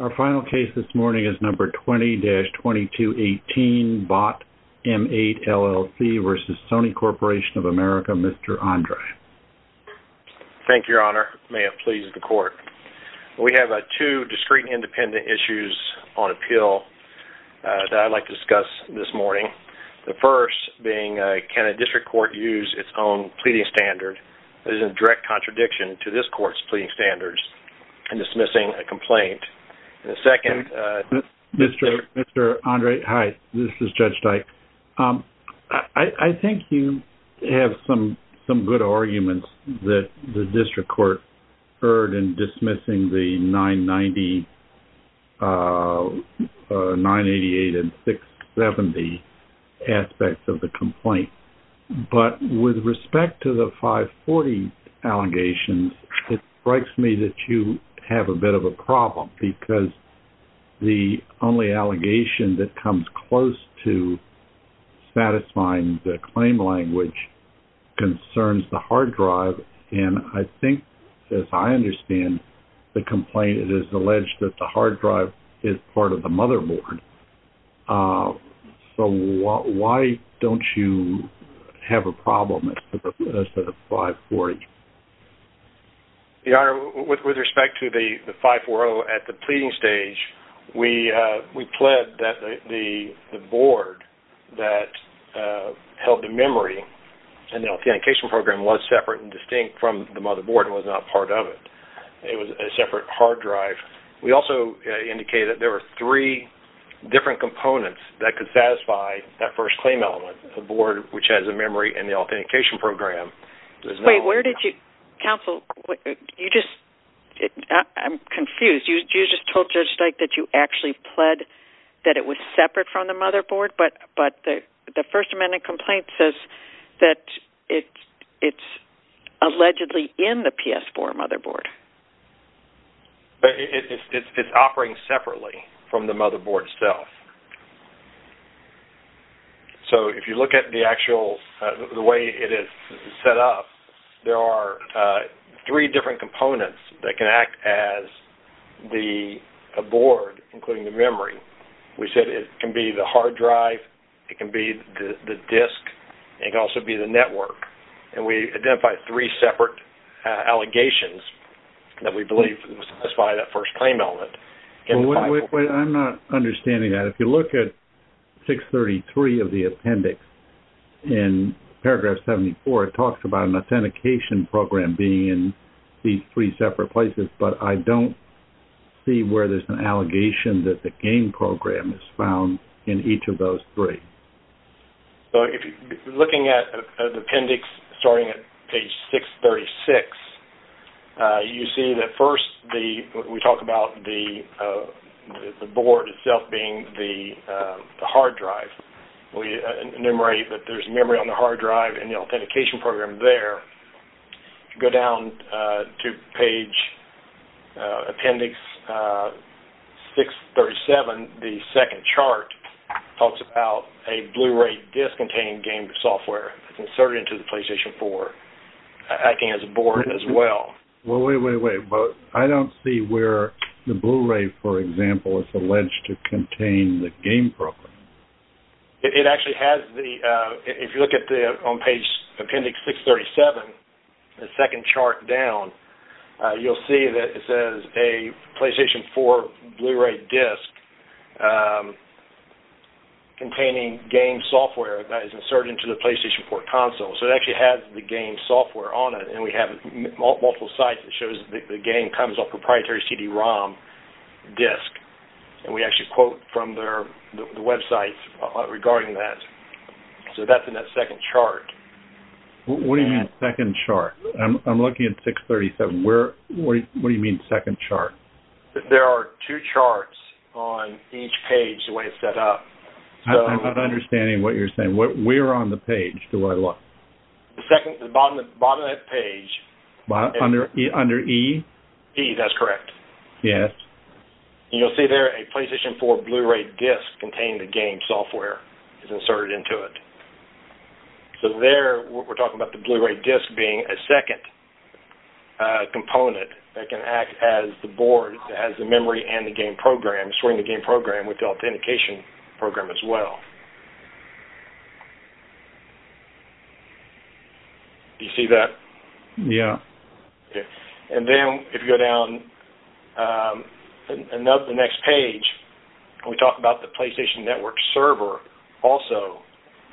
Our final case this morning is number 20-2218, Vought M8 LLC v. Sony Corporation of America, Mr. Andre. Thank you, Your Honor. May it please the Court. We have two discrete and independent issues on appeal that I'd like to discuss this morning. The first being, can a district court use its own pleading standard that is in direct contradiction to this court's pleading standards in dismissing a complaint? Mr. Andre, hi. This is Judge Dyke. I think you have some good arguments that the district court heard in dismissing the 990, 988, and 670 aspects of the complaint. But with respect to the 540 allegations, it strikes me that you have a bit of a problem, because the only allegation that comes close to satisfying the claim language concerns the hard drive. And I think, as I understand the complaint, it is alleged that the hard drive is part of the motherboard. So why don't you have a problem with the 540? Your Honor, with respect to the 540 at the pleading stage, we pled that the board that held the memory and the authentication program was separate and distinct from the motherboard and was not part of it. It was a separate hard drive. We also indicated that there were three different components that could satisfy that first claim element, the board which has a memory and the authentication program. Wait, where did you... Counsel, you just... I'm confused. You just told Judge Dyke that you actually pled that it was separate from the motherboard, but the First Amendment complaint says that it's allegedly in the PS4 motherboard. But it's operating separately from the motherboard itself. So if you look at the actual... the way it is set up, there are three different components that can act as the board, including the memory. We said it can be the hard drive, it can be the disk, and it can also be the network. And we identified three separate allegations that we believe satisfy that first claim element. I'm not understanding that. If you look at 633 of the appendix in paragraph 74, it talks about an authentication program being in these three separate places, but I don't see where there's an allegation that the game program is found in each of those three. So looking at the appendix starting at page 636, you see that first we talk about the board itself being the hard drive. We enumerate that there's memory on the hard drive and the authentication program there. If you go down to page 637, the second chart talks about a Blu-ray disc containing game software that's inserted into the PlayStation 4 acting as a board as well. Well, wait, wait, wait. I don't see where the Blu-ray, for example, is alleged to contain the game program. It actually has the, if you look on page 637, the second chart down, you'll see that it says a PlayStation 4 Blu-ray disc containing game software that is inserted into the PlayStation 4 console. So it actually has the game software on it, and we have multiple sites that show that the game comes off a proprietary CD-ROM disc. And we actually quote from the websites regarding that. So that's in that second chart. What do you mean second chart? I'm looking at 637. What do you mean second chart? There are two charts on each page the way it's set up. I'm not understanding what you're saying. Where on the page do I look? The bottom of that page. Under E? E, that's correct. Yes. You'll see there a PlayStation 4 Blu-ray disc containing the game software is inserted into it. So there we're talking about the Blu-ray disc being a second component that can act as the board, as the memory and the game program, storing the game program with the authentication program as well. Do you see that? Yes. And then if you go down the next page, we talk about the PlayStation Network server also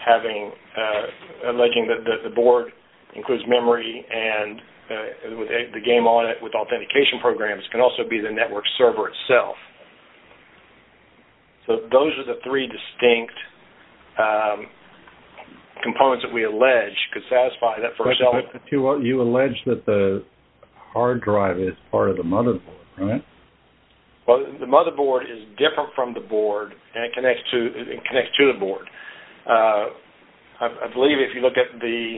having the board includes memory and the game on it with authentication programs can also be the network server itself. So those are the three distinct components that we allege could satisfy that first element. You allege that the hard drive is part of the motherboard, right? Well, the motherboard is different from the board and it connects to the board. I believe if you look at the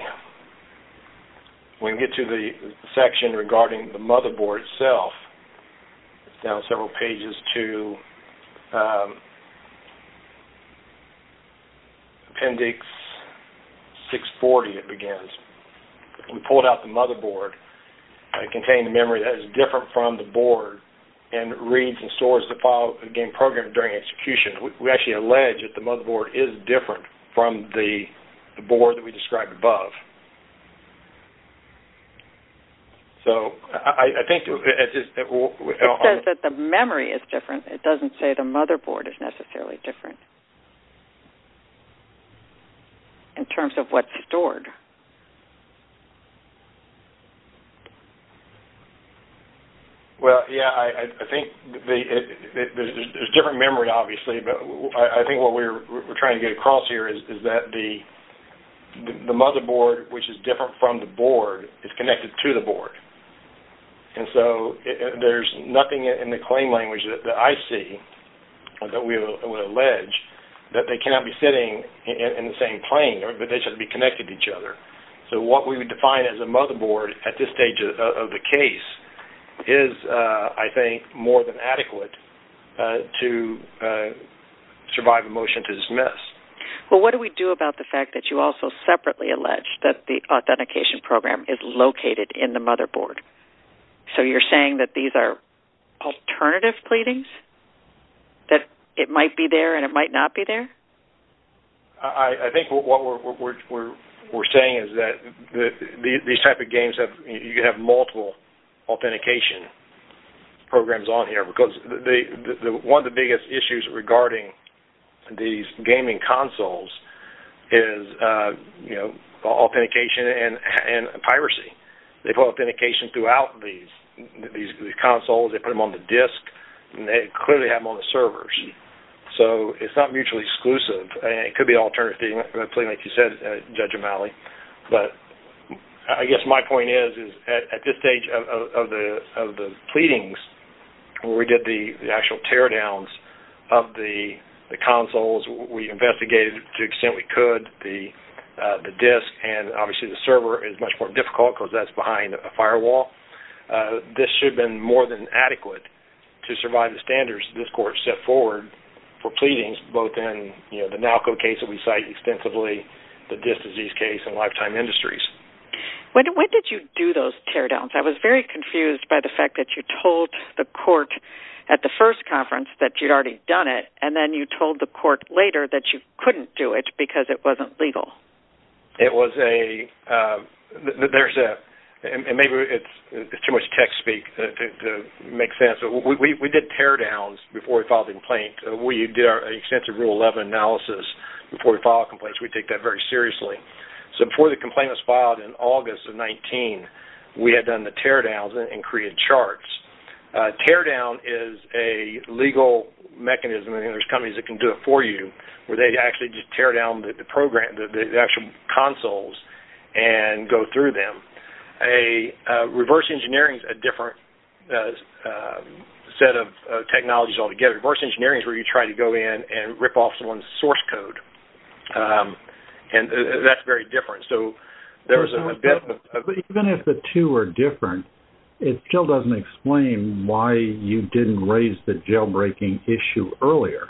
section regarding the motherboard itself, it's down several pages to Appendix 640, it begins. We pulled out the motherboard. It contained a memory that is different from the board and reads and stores the game program during execution. We actually allege that the motherboard is different from the board that we described above. It says that the memory is different. It doesn't say the motherboard is necessarily different in terms of what's stored. Well, yes, I think there's different memory obviously, but I think what we're trying to get across here is that the motherboard which is different from the board is connected to the board. And so there's nothing in the claim language that I see that we would allege that they cannot be sitting in the same plane, but they should be connected to each other. So what we would define as a motherboard at this stage of the case is, I think, Well, what do we do about the fact that you also separately allege that the authentication program is located in the motherboard? So you're saying that these are alternative pleadings, that it might be there and it might not be there? I think what we're saying is that these type of games, you could have multiple authentication programs on here because one of the biggest issues regarding these gaming consoles is authentication and piracy. They put authentication throughout these consoles. They put them on the disk, and they clearly have them on the servers. So it's not mutually exclusive, and it could be an alternative thing, like you said, Judge O'Malley. But I guess my point is at this stage of the pleadings, where we get the actual teardowns of the consoles, we investigated to the extent we could the disk, and obviously the server is much more difficult because that's behind a firewall. This should have been more than adequate to survive the standards that this court set forward for pleadings, both in the NALCO case that we cite extensively, the disk disease case, and Lifetime Industries. When did you do those teardowns? I was very confused by the fact that you told the court at the first conference that you'd already done it, and then you told the court later that you couldn't do it because it wasn't legal. Maybe it's too much tech speak to make sense. We did teardowns before we filed the complaint. We did our extensive Rule 11 analysis before we filed complaints. We take that very seriously. Before the complaint was filed in August of 19, we had done the teardowns and created charts. Teardown is a legal mechanism, and there's companies that can do it for you, where they actually just teardown the actual consoles and go through them. Reverse engineering is a different set of technologies altogether. Reverse engineering is where you try to go in and rip off someone's source code. That's very different. Even if the two are different, it still doesn't explain why you didn't raise the jailbreaking issue earlier.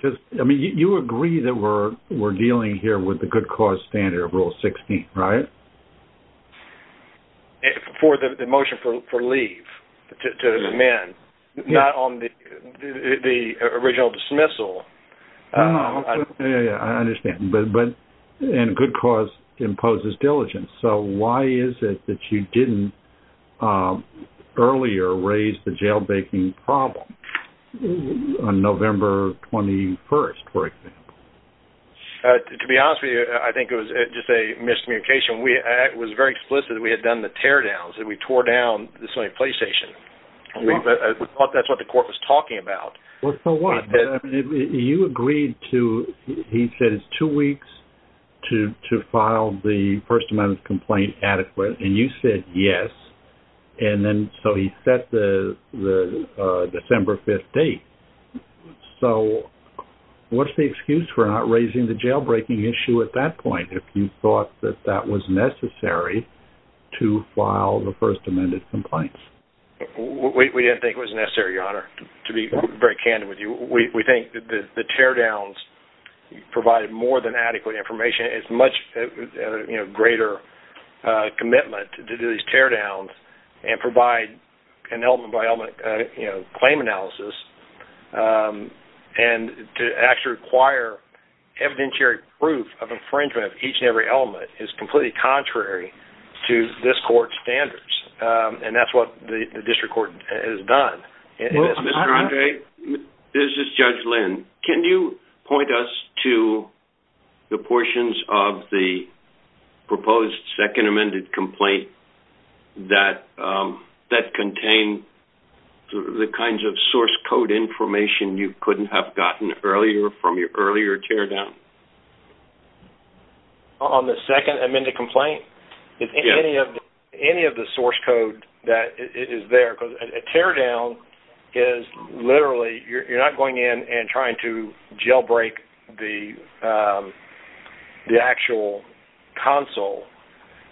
You agree that we're dealing here with the good cause standard of Rule 16, right? For the motion for leave to amend, not on the original dismissal. I understand. Good cause imposes diligence. Why is it that you didn't earlier raise the jailbreaking problem on November 21, for example? To be honest with you, I think it was just a miscommunication. It was very explicit that we had done the teardowns, that we tore down the Sony PlayStation. We thought that's what the court was talking about. Well, so what? You agreed to, he said it's two weeks to file the first amendment complaint adequate, and you said yes, and then so he set the December 5 date. So what's the excuse for not raising the jailbreaking issue at that point, if you thought that that was necessary to file the first amended complaint? We didn't think it was necessary, Your Honor, to be very candid with you. We think that the teardowns provided more than adequate information. It's much greater commitment to do these teardowns and provide an element by element, and to actually require evidentiary proof of infringement of each and every element is completely contrary to this court's standards, and that's what the district court has done. Mr. Andre, this is Judge Lynn. Can you point us to the portions of the proposed second amended complaint that contain the kinds of source code information you couldn't have gotten earlier from your earlier teardown? On the second amended complaint? Yes. Is any of the source code that is there, because a teardown is literally you're not going in and trying to jailbreak the actual console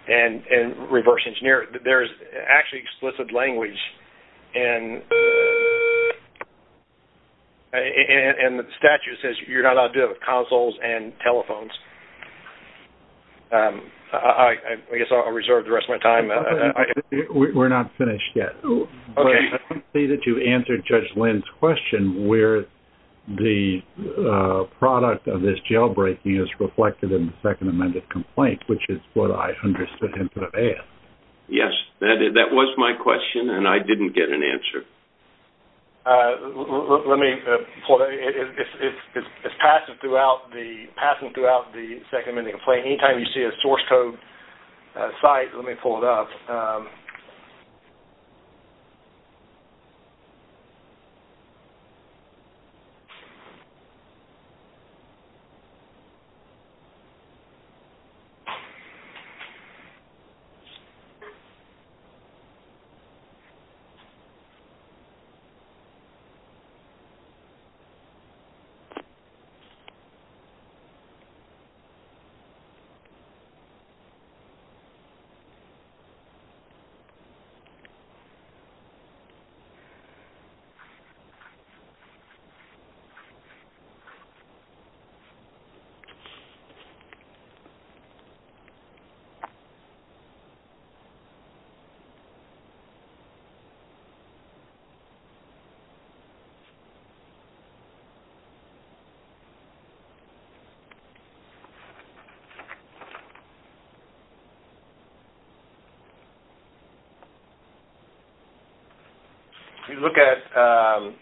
and reverse engineer there's actually explicit language and the statute says you're not allowed to do that with consoles and telephones. I guess I'll reserve the rest of my time. We're not finished yet. Okay. I don't see that you answered Judge Lynn's question where the product of this jailbreaking is reflected in the second amended complaint, which is what I Yes, that was my question, and I didn't get an answer. Let me pull it up. It's passing throughout the second amended complaint. Anytime you see a source code site, let me pull it up. Okay. If you look at I'm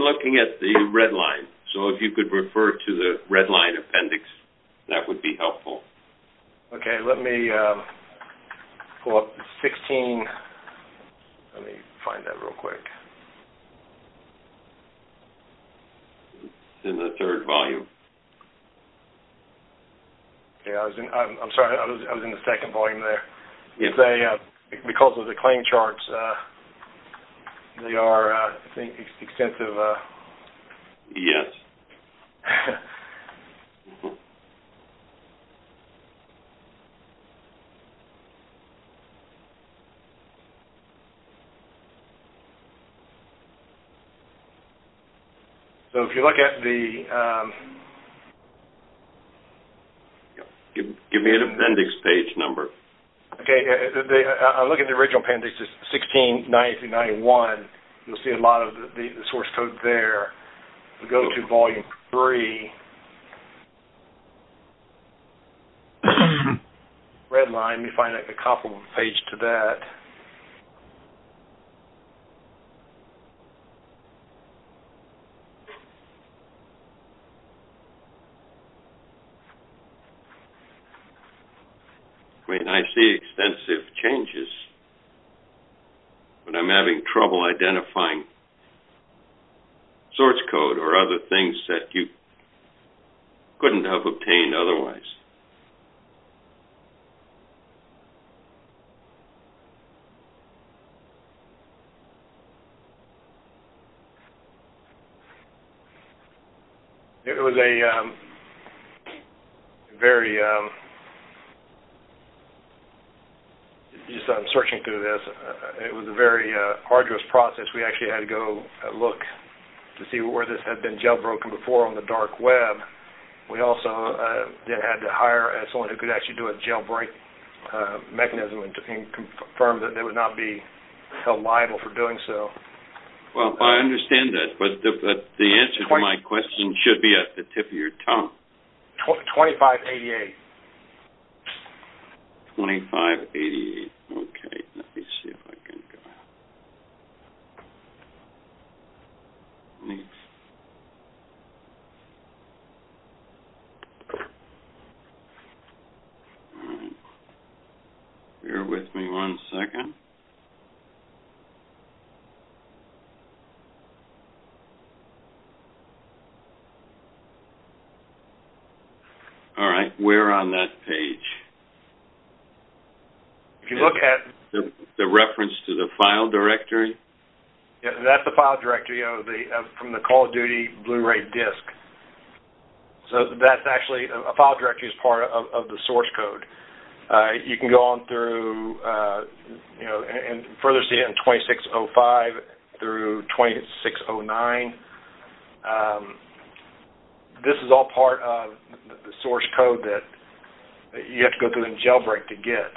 looking at the red line, so if you could refer to the red line appendix, that would be helpful. Okay. Let me pull up the 16. Let me find that real quick. It's in the third volume. I'm sorry. I was in the second volume there. Because of the claim charts, they are, I think, extensive. Yes. So, if you look at the Give me the appendix page number. Okay. I'll look at the original appendix, 169091. If you look at the red line, you'll see a lot of the source code there. If we go to volume three, red line, you'll find a comparable page to that. Okay. I mean, I see extensive changes. But I'm having trouble identifying source code or other things that you It was a very Just I'm searching through this. It was a very arduous process. We actually had to go look to see where this had been jailbroken before on the dark web. We also then had to hire someone who could actually do a jailbreak mechanism and confirm that they would not be held liable for doing so. Well, I understand that. But the answer to my question should be at the tip of your tongue. 2588. 2588. Okay. Let me see if I can go. Let me. Bear with me one second. All right. Where on that page? If you look at The reference to the file directory? That's the file directory from the Call of Duty Blu-ray disc. So that's actually a file directory as part of the source code. You can go on through and further see it in 2605 through 2609. This is all part of the source code that you have to go through a jailbreak to get.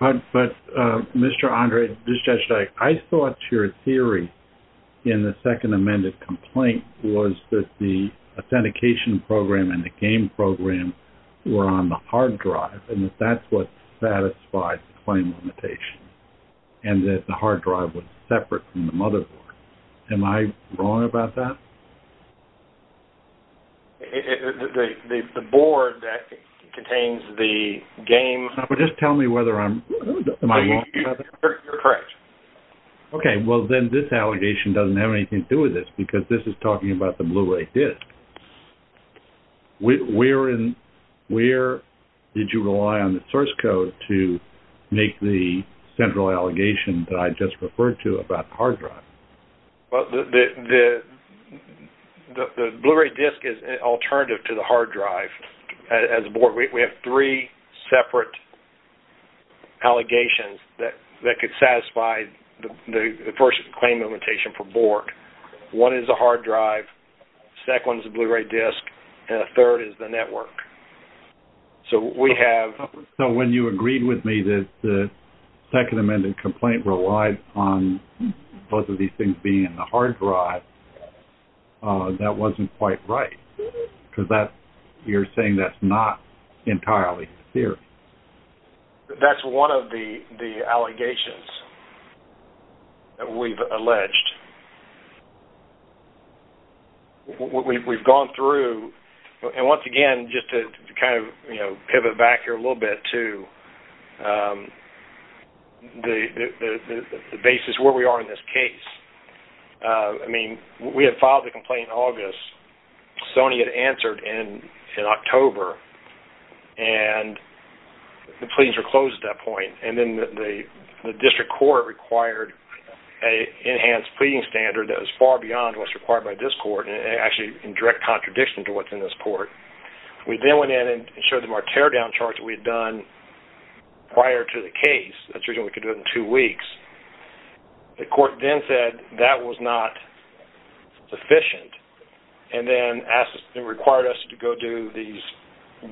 But, Mr. Andre, this is Judge Dyke, I thought your theory in the second amended complaint was that the authentication program and the game program were on the hard drive and that that's what satisfied the claim limitation and that the hard drive was separate from the motherboard. Am I wrong about that? The board that contains the game- Just tell me whether I'm- Am I wrong about that? You're correct. Okay. Well, then this allegation doesn't have anything to do with this because this is talking about the Blu-ray disc. Where did you rely on the source code to make the central allegation that I just referred to about the hard drive? The Blu-ray disc is an alternative to the hard drive as a board. We have three separate allegations that could satisfy the first claim limitation for board. One is the hard drive, the second one is the Blu-ray disc, and the third is the network. So we have- So when you agreed with me that the second amended complaint relied on both of these things being in the hard drive, that wasn't quite right because you're saying that's not entirely clear. That's one of the allegations that we've alleged. We've gone through- And once again, just to kind of pivot back here a little bit to the basis where we are in this case. I mean, we had filed the complaint in August. Sony had answered in October, and the pleadings were closed at that point. And then the district court required an enhanced pleading standard that was far beyond what's required by this court and actually in direct contradiction to what's in this court. We then went in and showed them our teardown charts that we had done prior to the case. That's the reason we could do it in two weeks. The court then said that was not sufficient and then required us to go do these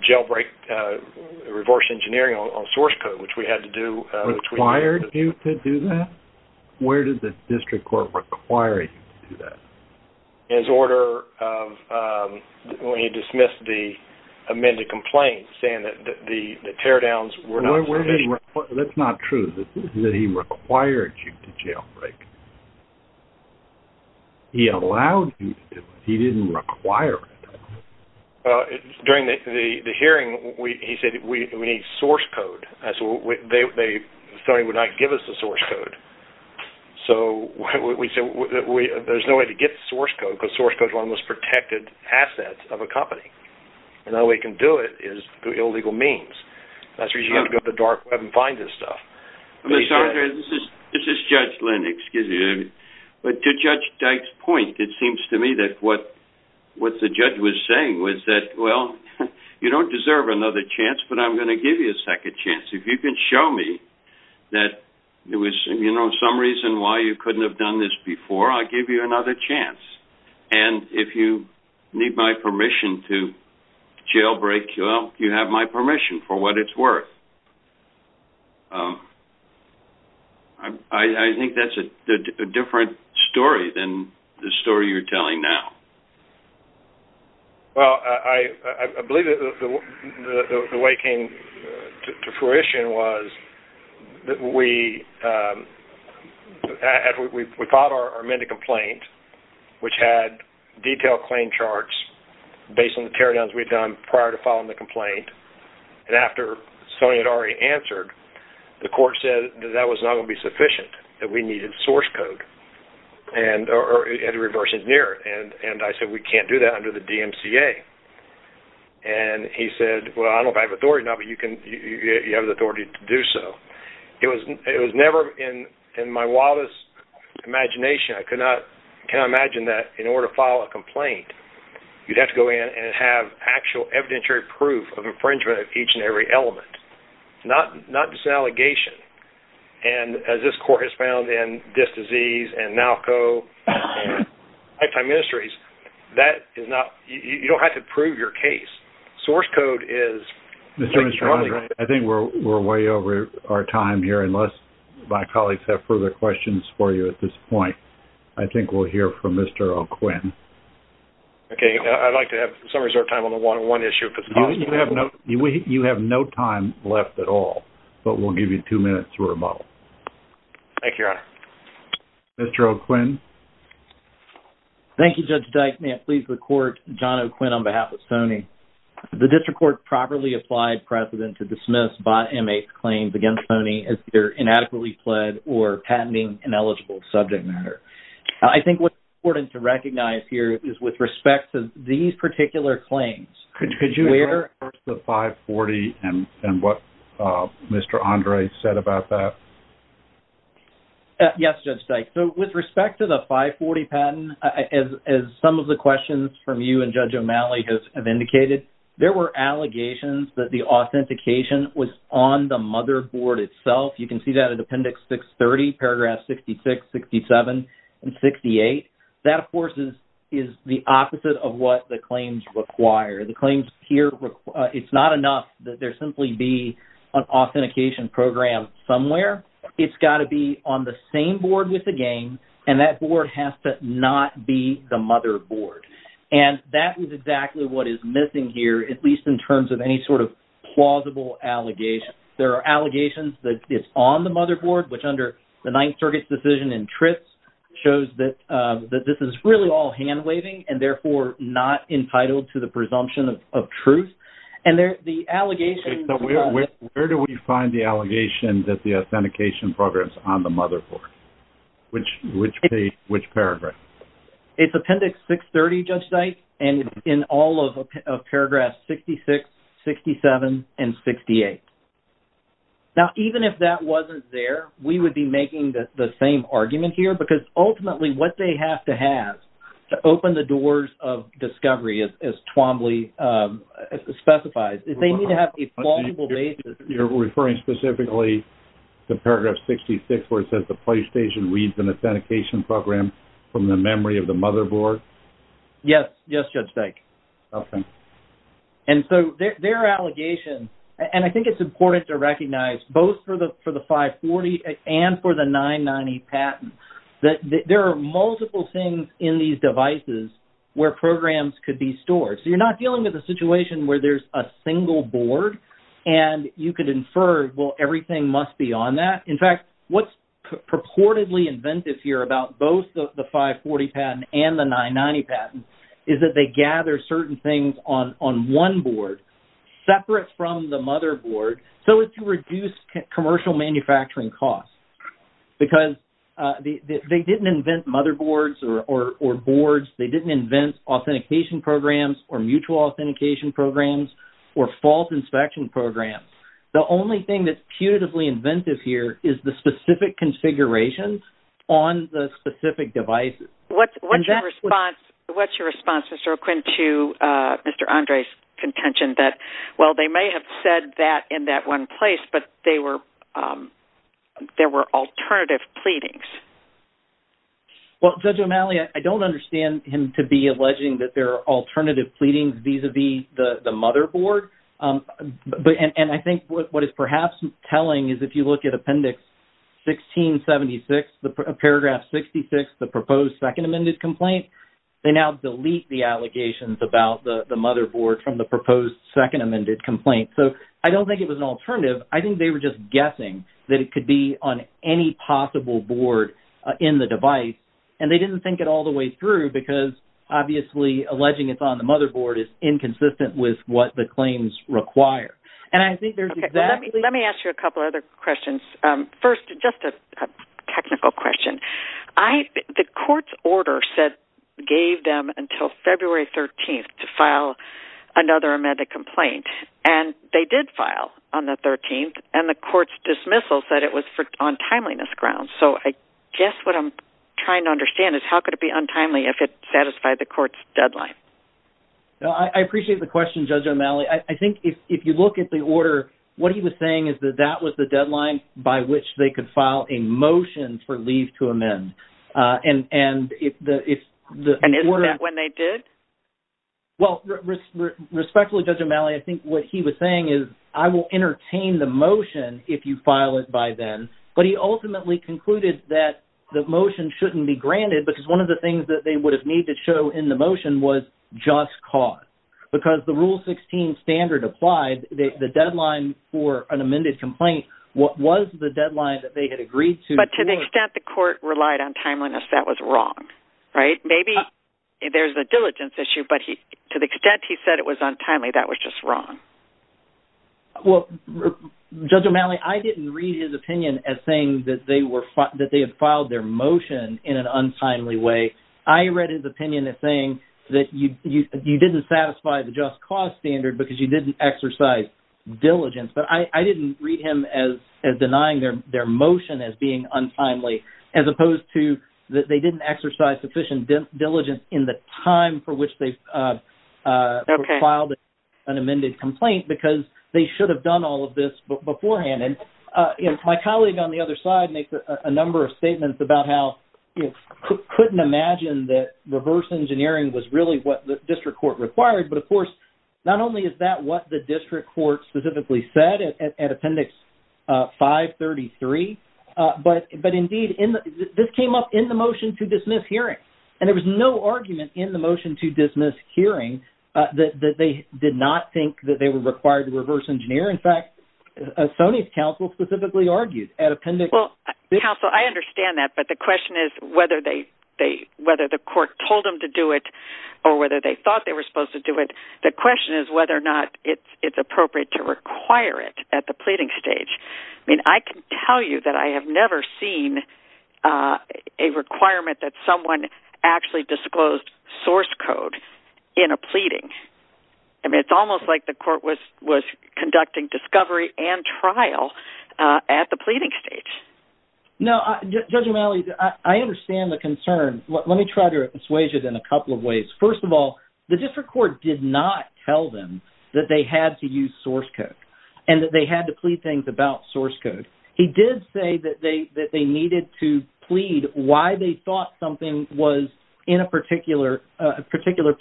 jailbreak reversed engineering on source code, which we had to do- Required you to do that? Where did the district court require you to do that? In order of when he dismissed the amended complaint, saying that the teardowns were not sufficient. That's not true. This isn't that he required you to jailbreak. He allowed you to do it. He didn't require it. During the hearing, he said we need source code. Sony would not give us the source code. There's no way to get source code because source code is one of the most protected assets of a company. The only way you can do it is through illegal means. That's the reason you have to go to the dark web and find this stuff. This is Judge Lynn. To Judge Dyke's point, it seems to me that what the judge was saying was that, well, you don't deserve another chance, but I'm going to give you a second chance. If you can show me that there was some reason why you couldn't have done this before, I'll give you another chance. And if you need my permission to jailbreak, well, you have my permission for what it's worth. I think that's a different story than the story you're telling now. Well, I believe that the way it came to fruition was that we filed our amended complaint, which had detailed claim charts based on the teardowns we'd done prior to filing the complaint. And after Sony had already answered, the court said that that was not going to be sufficient, that we needed source code or a reverse engineer. And I said, we can't do that under the DMCA. And he said, well, I don't know if I have authority or not, but you have the authority to do so. It was never in my wildest imagination. I could not imagine that in order to file a complaint, you'd have to go in and have actual evidentiary proof of infringement of each and every element, not just an allegation. And as this court has found in this disease and NALCO and Lifetime Ministries, that is not – you don't have to prove your case. Source code is – Mr. Armstrong, I think we're way over our time here, unless my colleagues have further questions for you at this point. I think we'll hear from Mr. O'Quinn. Okay. I'd like to have some resort time on the one-on-one issue. You have no time left at all, but we'll give you two minutes for rebuttal. Thank you, Your Honor. Mr. O'Quinn. Thank you, Judge Dyke. May it please the court, John O'Quinn on behalf of Sony. The district court properly applied precedent to dismiss bot M-8 claims against Sony as either inadequately pled or patenting ineligible subject matter. I think what's important to recognize here is with respect to these particular claims, Could you address the 540 and what Mr. Andre said about that? Yes, Judge Dyke. With respect to the 540 patent, as some of the questions from you and Judge O'Malley have indicated, there were allegations that the authentication was on the motherboard itself. You can see that in Appendix 630, paragraphs 66, 67, and 68. That, of course, is the opposite of what the claims require. The claims here, it's not enough that there simply be an authentication program somewhere. It's got to be on the same board with the game, and that board has to not be the motherboard. And that is exactly what is missing here, at least in terms of any sort of plausible allegation. There are allegations that it's on the motherboard, which under the Ninth Circuit's decision in TRIPS shows that this is really all hand-waving and therefore not entitled to the presumption of truth. And the allegations… Where do we find the allegation that the authentication program is on the motherboard? Which paragraph? It's Appendix 630, Judge Dyke, and in all of paragraphs 66, 67, and 68. Now, even if that wasn't there, we would be making the same argument here, because ultimately what they have to have to open the doors of discovery, as Twombly specifies, is they need to have a plausible basis. You're referring specifically to paragraph 66, where it says, the PlayStation reads an authentication program from the memory of the motherboard? Yes. Yes, Judge Dyke. And so their allegation, and I think it's important to recognize, both for the 540 and for the 990 patent, that there are multiple things in these devices where programs could be stored. So you're not dealing with a situation where there's a single board, and you could infer, well, everything must be on that. In fact, what's purportedly inventive here about both the 540 patent and the 990 patent is that they gather certain things on one board, separate from the motherboard, so as to reduce commercial manufacturing costs. Because they didn't invent motherboards or boards. They didn't invent authentication programs or mutual authentication programs or fault inspection programs. The only thing that's putatively inventive here is the specific configurations on the specific devices. What's your response, Mr. O'Quinn, to Mr. Andre's contention that, well, they may have said that in that one place, but there were alternative pleadings? Well, Judge O'Malley, I don't understand him to be alleging that there are alternative pleadings vis-à-vis the motherboard. And I think what it's perhaps telling is if you look at Appendix 1676, Paragraph 66, the proposed Second Amended Complaint, they now delete the allegations about the motherboard from the proposed Second Amended Complaint. So I don't think it was an alternative. I think they were just guessing that it could be on any possible board in the device, and they didn't think it all the way through because, obviously, alleging it's on the motherboard is inconsistent with what the claims require. And I think there's exactly... Let me ask you a couple other questions. First, just a technical question. The court's order gave them until February 13th to file another amended complaint, and they did file on the 13th, and the court's dismissal said it was on timeliness grounds. So I guess what I'm trying to understand is how could it be untimely if it satisfied the court's deadline? I appreciate the question, Judge O'Malley. I think if you look at the order, what he was saying is that that was the deadline. That was the point by which they could file a motion for leave to amend. And if the order... And isn't that when they did? Well, respectfully, Judge O'Malley, I think what he was saying is, I will entertain the motion if you file it by then, but he ultimately concluded that the motion shouldn't be granted because one of the things that they would have needed to show in the motion was just cause because the Rule 16 standard applied. The deadline for an amended complaint was the deadline that they had agreed to. But to the extent the court relied on timeliness, that was wrong, right? Maybe there's a diligence issue, but to the extent he said it was untimely, that was just wrong. Well, Judge O'Malley, I didn't read his opinion as saying that they had filed their motion in an untimely way. I read his opinion as saying that you didn't satisfy the just cause standard because you didn't exercise diligence. But I didn't read him as denying their motion as being untimely as opposed to that they didn't exercise sufficient diligence in the time for which they filed an amended complaint because they should have done all of this beforehand. And my colleague on the other side makes a number of statements about how he couldn't imagine that reverse engineering was really what the district court required. But, of course, not only is that what the district court specifically said at Appendix 533, but, indeed, this came up in the motion to dismiss hearing. And there was no argument in the motion to dismiss hearing that they did not think that they were required to reverse engineer. In fact, Sonia's counsel specifically argued at Appendix 533. Counsel, I understand that, but the question is whether the court told them to do it or whether they thought they were supposed to do it. The question is whether or not it's appropriate to require it at the pleading stage. I mean, I can tell you that I have never seen a requirement that someone actually disclosed source code in a pleading. I mean, it's almost like the court was conducting discovery and trial at the pleading stage. No, Judge O'Malley, I understand the concern. Let me try to assuage it in a couple of ways. First of all, the district court did not tell them that they had to use source code and that they had to plead things about source code. He did say that they needed to plead why they thought something was in a particular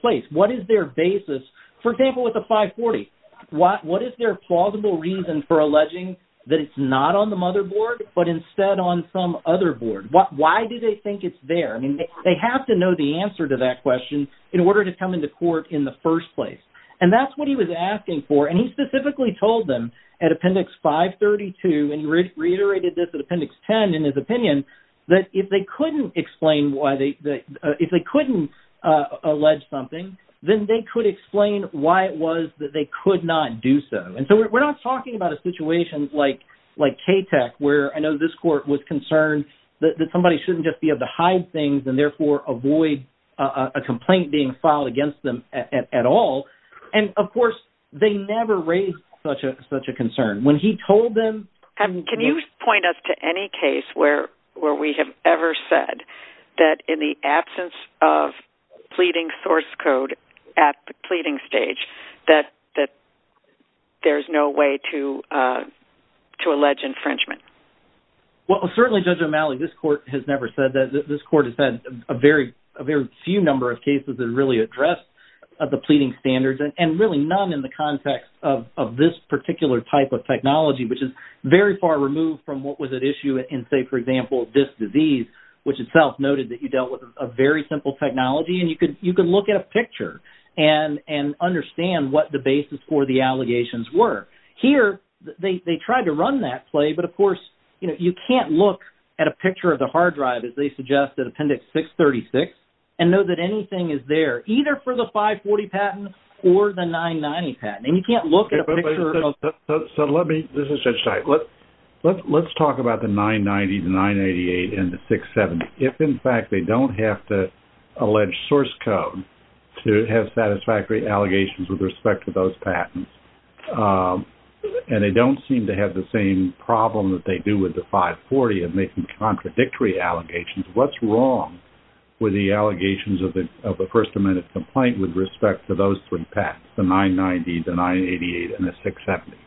place. What is their basis? For example, with the 540, what is their plausible reason for alleging that it's not on the motherboard but instead on some other board? Why do they think it's there? I mean, they have to know the answer to that question in order to come into court in the first place. And that's what he was asking for, and he specifically told them at Appendix 532, and he reiterated this at Appendix 10 in his opinion, that if they couldn't explain why they—if they couldn't allege something, then they could explain why it was that they could not do so. And so we're not talking about a situation like KTAC where I know this court was concerned that somebody shouldn't just be able to hide things and therefore avoid a complaint being filed against them at all. And, of course, they never raised such a concern. When he told them— Can you point us to any case where we have ever said that in the absence of pleading source code at the pleading stage that there's no way to allege infringement? Well, certainly, Judge O'Malley, this court has never said that. This court has had a very few number of cases that really address the pleading standards and really none in the context of this particular type of technology, which is very far removed from what was at issue in, say, for example, this disease, which itself noted that you dealt with a very simple technology, and you could look at a picture and understand what the basis for the allegations were. Here, they tried to run that play, but, of course, you can't look at a picture of the hard drive, as they suggest, at Appendix 636 and know that anything is there, either for the 540 patent or the 990 patent. And you can't look at a picture— So let me—this is Judge Teich. Let's talk about the 990, the 988, and the 670. If, in fact, they don't have to allege source code to have satisfactory allegations with respect to those patents, and they don't seem to have the same problem that they do with the 540 of making contradictory allegations, what's wrong with the allegations of a first-amendment complaint with respect to those three patents, the 990, the 988, and the 670?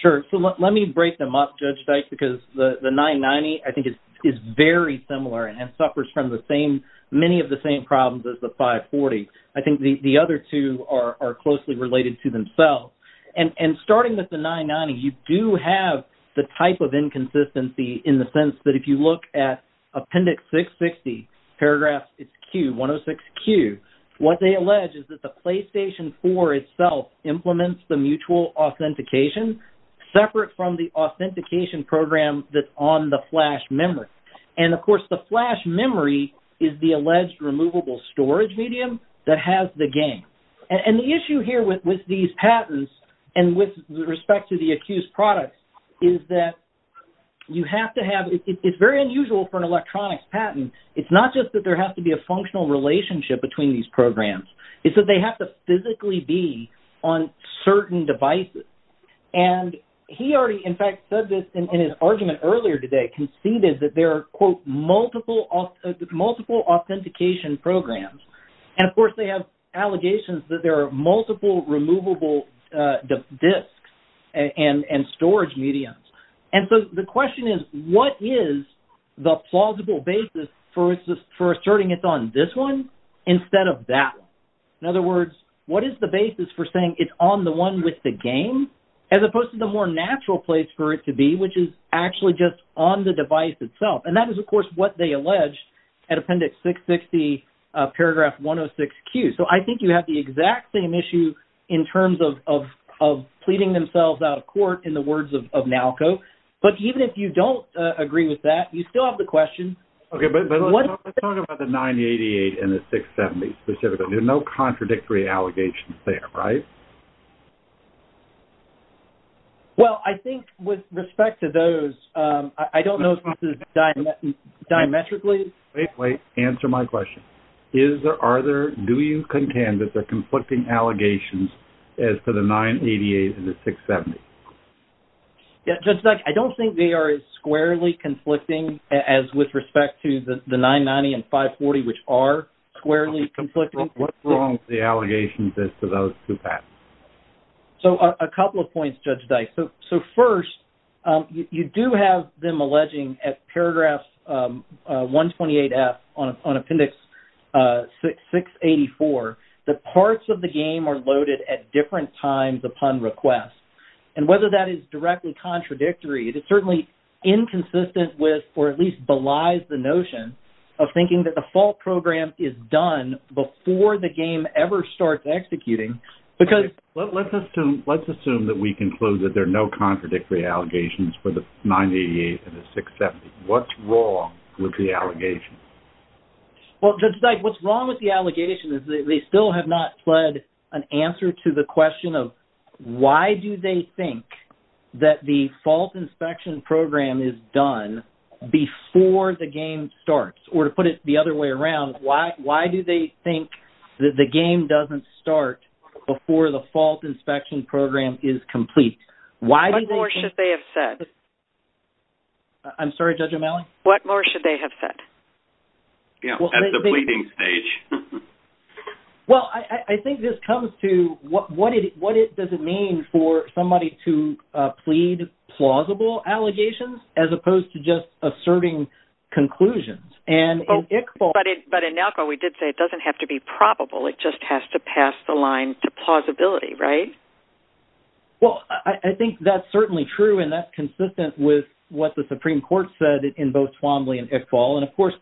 Sure. So let me break them up, Judge Teich, because the 990, I think, is very similar and suffers from many of the same problems as the 540. I think the other two are closely related to themselves. And starting with the 990, you do have the type of inconsistency in the sense that if you look at Appendix 660, paragraph 106Q, what they allege is that the PlayStation 4 itself implements the mutual authentication separate from the authentication program that's on the flash memory. And, of course, the flash memory is the alleged removable storage medium that has the game. And the issue here with these patents and with respect to the accused product is that you have to have—it's very unusual for an electronics patent. It's not just that there has to be a functional relationship between these programs. It's that they have to physically be on certain devices. And he already, in fact, said this in his argument earlier today, conceded that there are, quote, multiple authentication programs. And, of course, they have allegations that there are multiple removable disks and storage mediums. And so the question is, what is the plausible basis for asserting it's on this one instead of that one? In other words, what is the basis for saying it's on the one with the game as opposed to the more natural place for it to be, which is actually just on the device itself? And that is, of course, what they alleged at Appendix 660, paragraph 106Q. So I think you have the exact same issue in terms of pleading themselves out of court in the words of NALCO. But even if you don't agree with that, you still have the question— Okay, but let's talk about the 988 and the 670 specifically. There are no contradictory allegations there, right? Well, I think with respect to those, I don't know if this is diametrically— Wait, wait, answer my question. Do you contend that there are conflicting allegations as to the 988 and the 670? Judge Dyke, I don't think they are as squarely conflicting as with respect to the 990 and 540, which are squarely conflicting. What's wrong with the allegations as to those two patents? So a couple of points, Judge Dyke. So first, you do have them alleging at paragraph 128F on Appendix 684 that parts of the game are loaded at different times upon request. And whether that is directly contradictory, it is certainly inconsistent with or at least belies the notion of thinking that the fault program is done before the game ever starts executing. Let's assume that we conclude that there are no contradictory allegations for the 988 and the 670. What's wrong with the allegations? Well, Judge Dyke, what's wrong with the allegations is that they still have not fled an answer to the question of why do they think that the fault inspection program is done before the game starts? Or to put it the other way around, why do they think that the game doesn't start before the fault inspection program is complete? What more should they have said? I'm sorry, Judge O'Malley? What more should they have said? At the pleading stage. Well, I think this comes to what does it mean for somebody to plead plausible allegations as opposed to just asserting conclusions. But in NALCO, we did say it doesn't have to be probable. It just has to pass the line to plausibility, right? Well, I think that's certainly true and that's consistent with what the Supreme Court said in both Twombly and Iqbal. And, of course,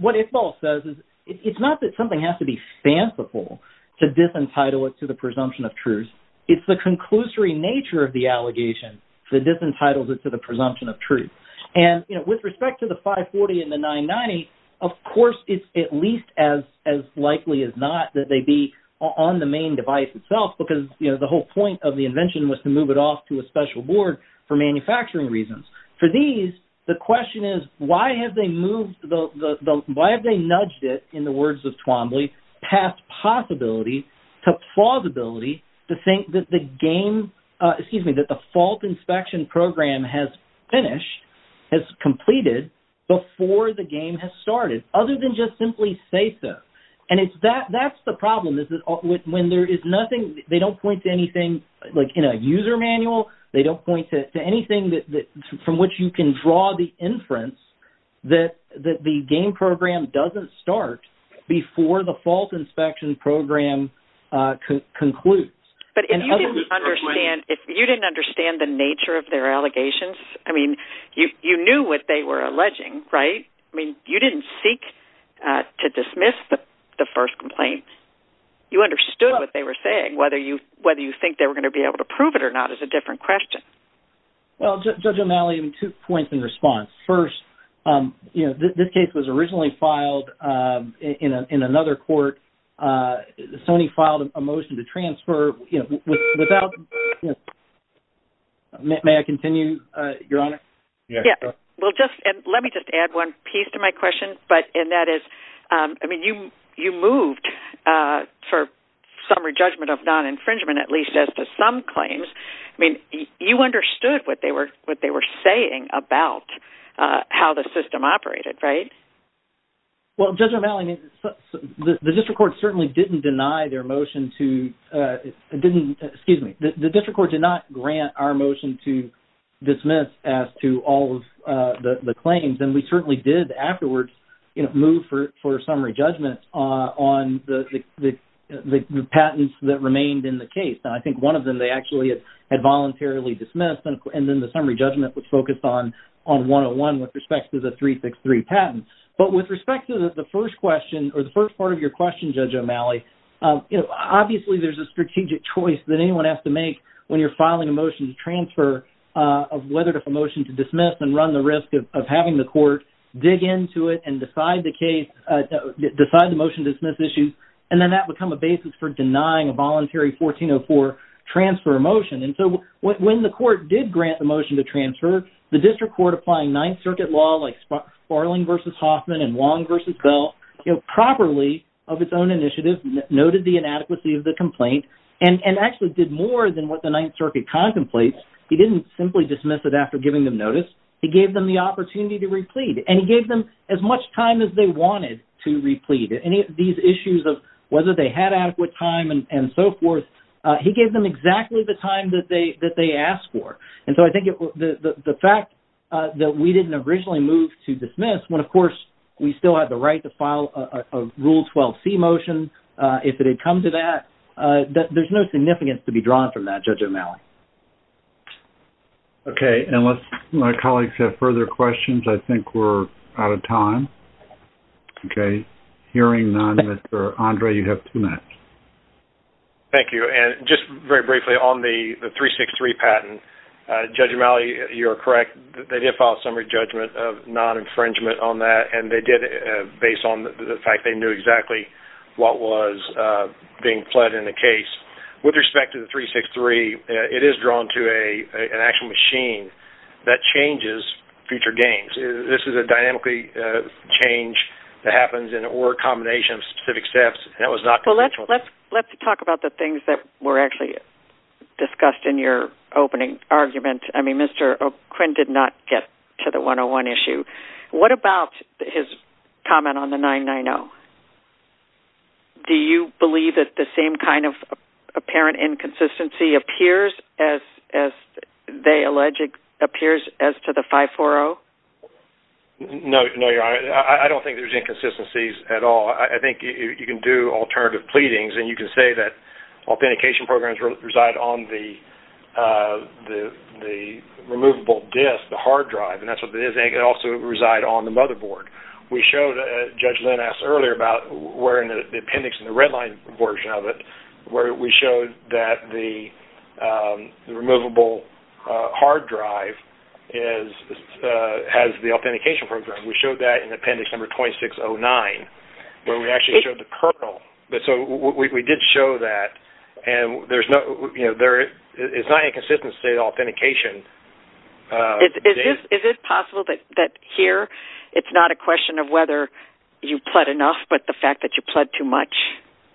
what Iqbal says is it's not that something has to be fanciful to disentitle it to the presumption of truth. It's the conclusory nature of the allegation that disentitles it to the presumption of truth. And, you know, with respect to the 540 and the 990, of course, it's at least as likely as not that they be on the main device itself because, you know, the whole point of the invention was to move it off to a special board for manufacturing reasons. For these, the question is why have they nudged it, in the words of Twombly, past possibility to plausibility to think that the fault inspection program has finished, has completed, before the game has started other than just simply say so. And that's the problem. They don't point to anything, like in a user manual, they don't point to anything from which you can draw the inference that the game program doesn't start before the fault inspection program concludes. But if you didn't understand the nature of their allegations, I mean, you knew what they were alleging, right? I mean, you didn't seek to dismiss the first complaint. You understood what they were saying. Whether you think they were going to be able to prove it or not is a different question. Well, Judge O'Malley, two points in response. First, you know, this case was originally filed in another court. Sony filed a motion to transfer, you know, without... May I continue, Your Honor? Yes, go ahead. Well, let me just add one piece to my question, and that is, I mean, you moved for summary judgment of non-infringement, at least as to some claims. I mean, you understood what they were saying about how the system operated, right? Well, Judge O'Malley, the district court certainly didn't deny their motion to... to all of the claims, and we certainly did afterwards, you know, move for summary judgment on the patents that remained in the case. Now, I think one of them they actually had voluntarily dismissed, and then the summary judgment was focused on 101 with respect to the 363 patent. But with respect to the first question, or the first part of your question, Judge O'Malley, you know, obviously there's a strategic choice that anyone has to make when you're filing a motion to transfer of whether to motion to dismiss and run the risk of having the court dig into it and decide the case... decide the motion to dismiss issue, and then that would become a basis for denying a voluntary 1404 transfer motion. And so when the court did grant the motion to transfer, the district court applying Ninth Circuit law, like Sparling v. Hoffman and Wong v. Bell, you know, properly of its own initiative, noted the inadequacy of the complaint, and actually did more than what the Ninth Circuit contemplates. He didn't simply dismiss it after giving them notice. He gave them the opportunity to replead, and he gave them as much time as they wanted to replead. Any of these issues of whether they had adequate time and so forth, he gave them exactly the time that they asked for. And so I think the fact that we didn't originally move to dismiss when, of course, we still had the right to file a Rule 12c motion if it had come to that, there's no significance to be drawn from that, Judge O'Malley. Okay. And unless my colleagues have further questions, I think we're out of time. Okay. Hearing none, Mr. Andre, you have two minutes. Thank you. And just very briefly on the 363 patent, Judge O'Malley, you are correct. They did file a summary judgment of non-infringement on that, and they did it based on the fact they knew exactly what was being pled in the case. With respect to the 363, it is drawn to an actual machine that changes future games. This is a dynamically change that happens, and it were a combination of specific steps, and that was not the case. Well, let's talk about the things that were actually discussed in your opening argument. I mean, Mr. Quinn did not get to the 101 issue. What about his comment on the 990? Do you believe that the same kind of apparent inconsistency appears as they allege it appears as to the 540? No, Your Honor. I don't think there's inconsistencies at all. I think you can do alternative pleadings, and you can say that authentication programs reside on the removable disk, the hard drive, and that's what it is, and it can also reside on the motherboard. Judge Lynn asked earlier about the appendix in the red line version of it, where we showed that the removable hard drive has the authentication program. We showed that in appendix number 2609, where we actually showed the kernel. We did show that, and there is not inconsistency in authentication. Is it possible that here it's not a question of whether you pled enough, but the fact that you pled too much,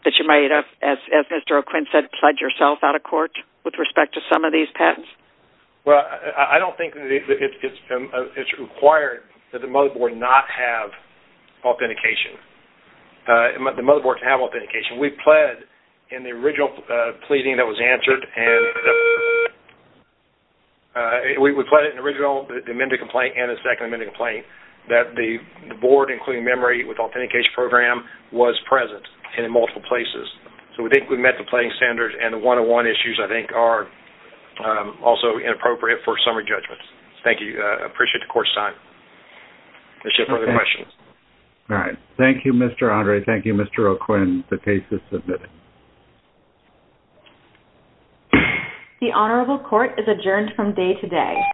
that you might have, as Mr. O'Quinn said, pled yourself out of court with respect to some of these patents? Well, I don't think it's required that the motherboard not have authentication. The motherboard can have authentication. We pled in the original pleading that was answered, the amended complaint and the second amended complaint, that the board, including memory with authentication program, was present in multiple places. So, I think we met the pleading standards, and the one-on-one issues, I think, are also inappropriate for summary judgments. Thank you. I appreciate the court's time. Is there further questions? All right. Thank you, Mr. Andre. Thank you, Mr. O'Quinn. The case is submitted. The Honorable Court is adjourned from day to day.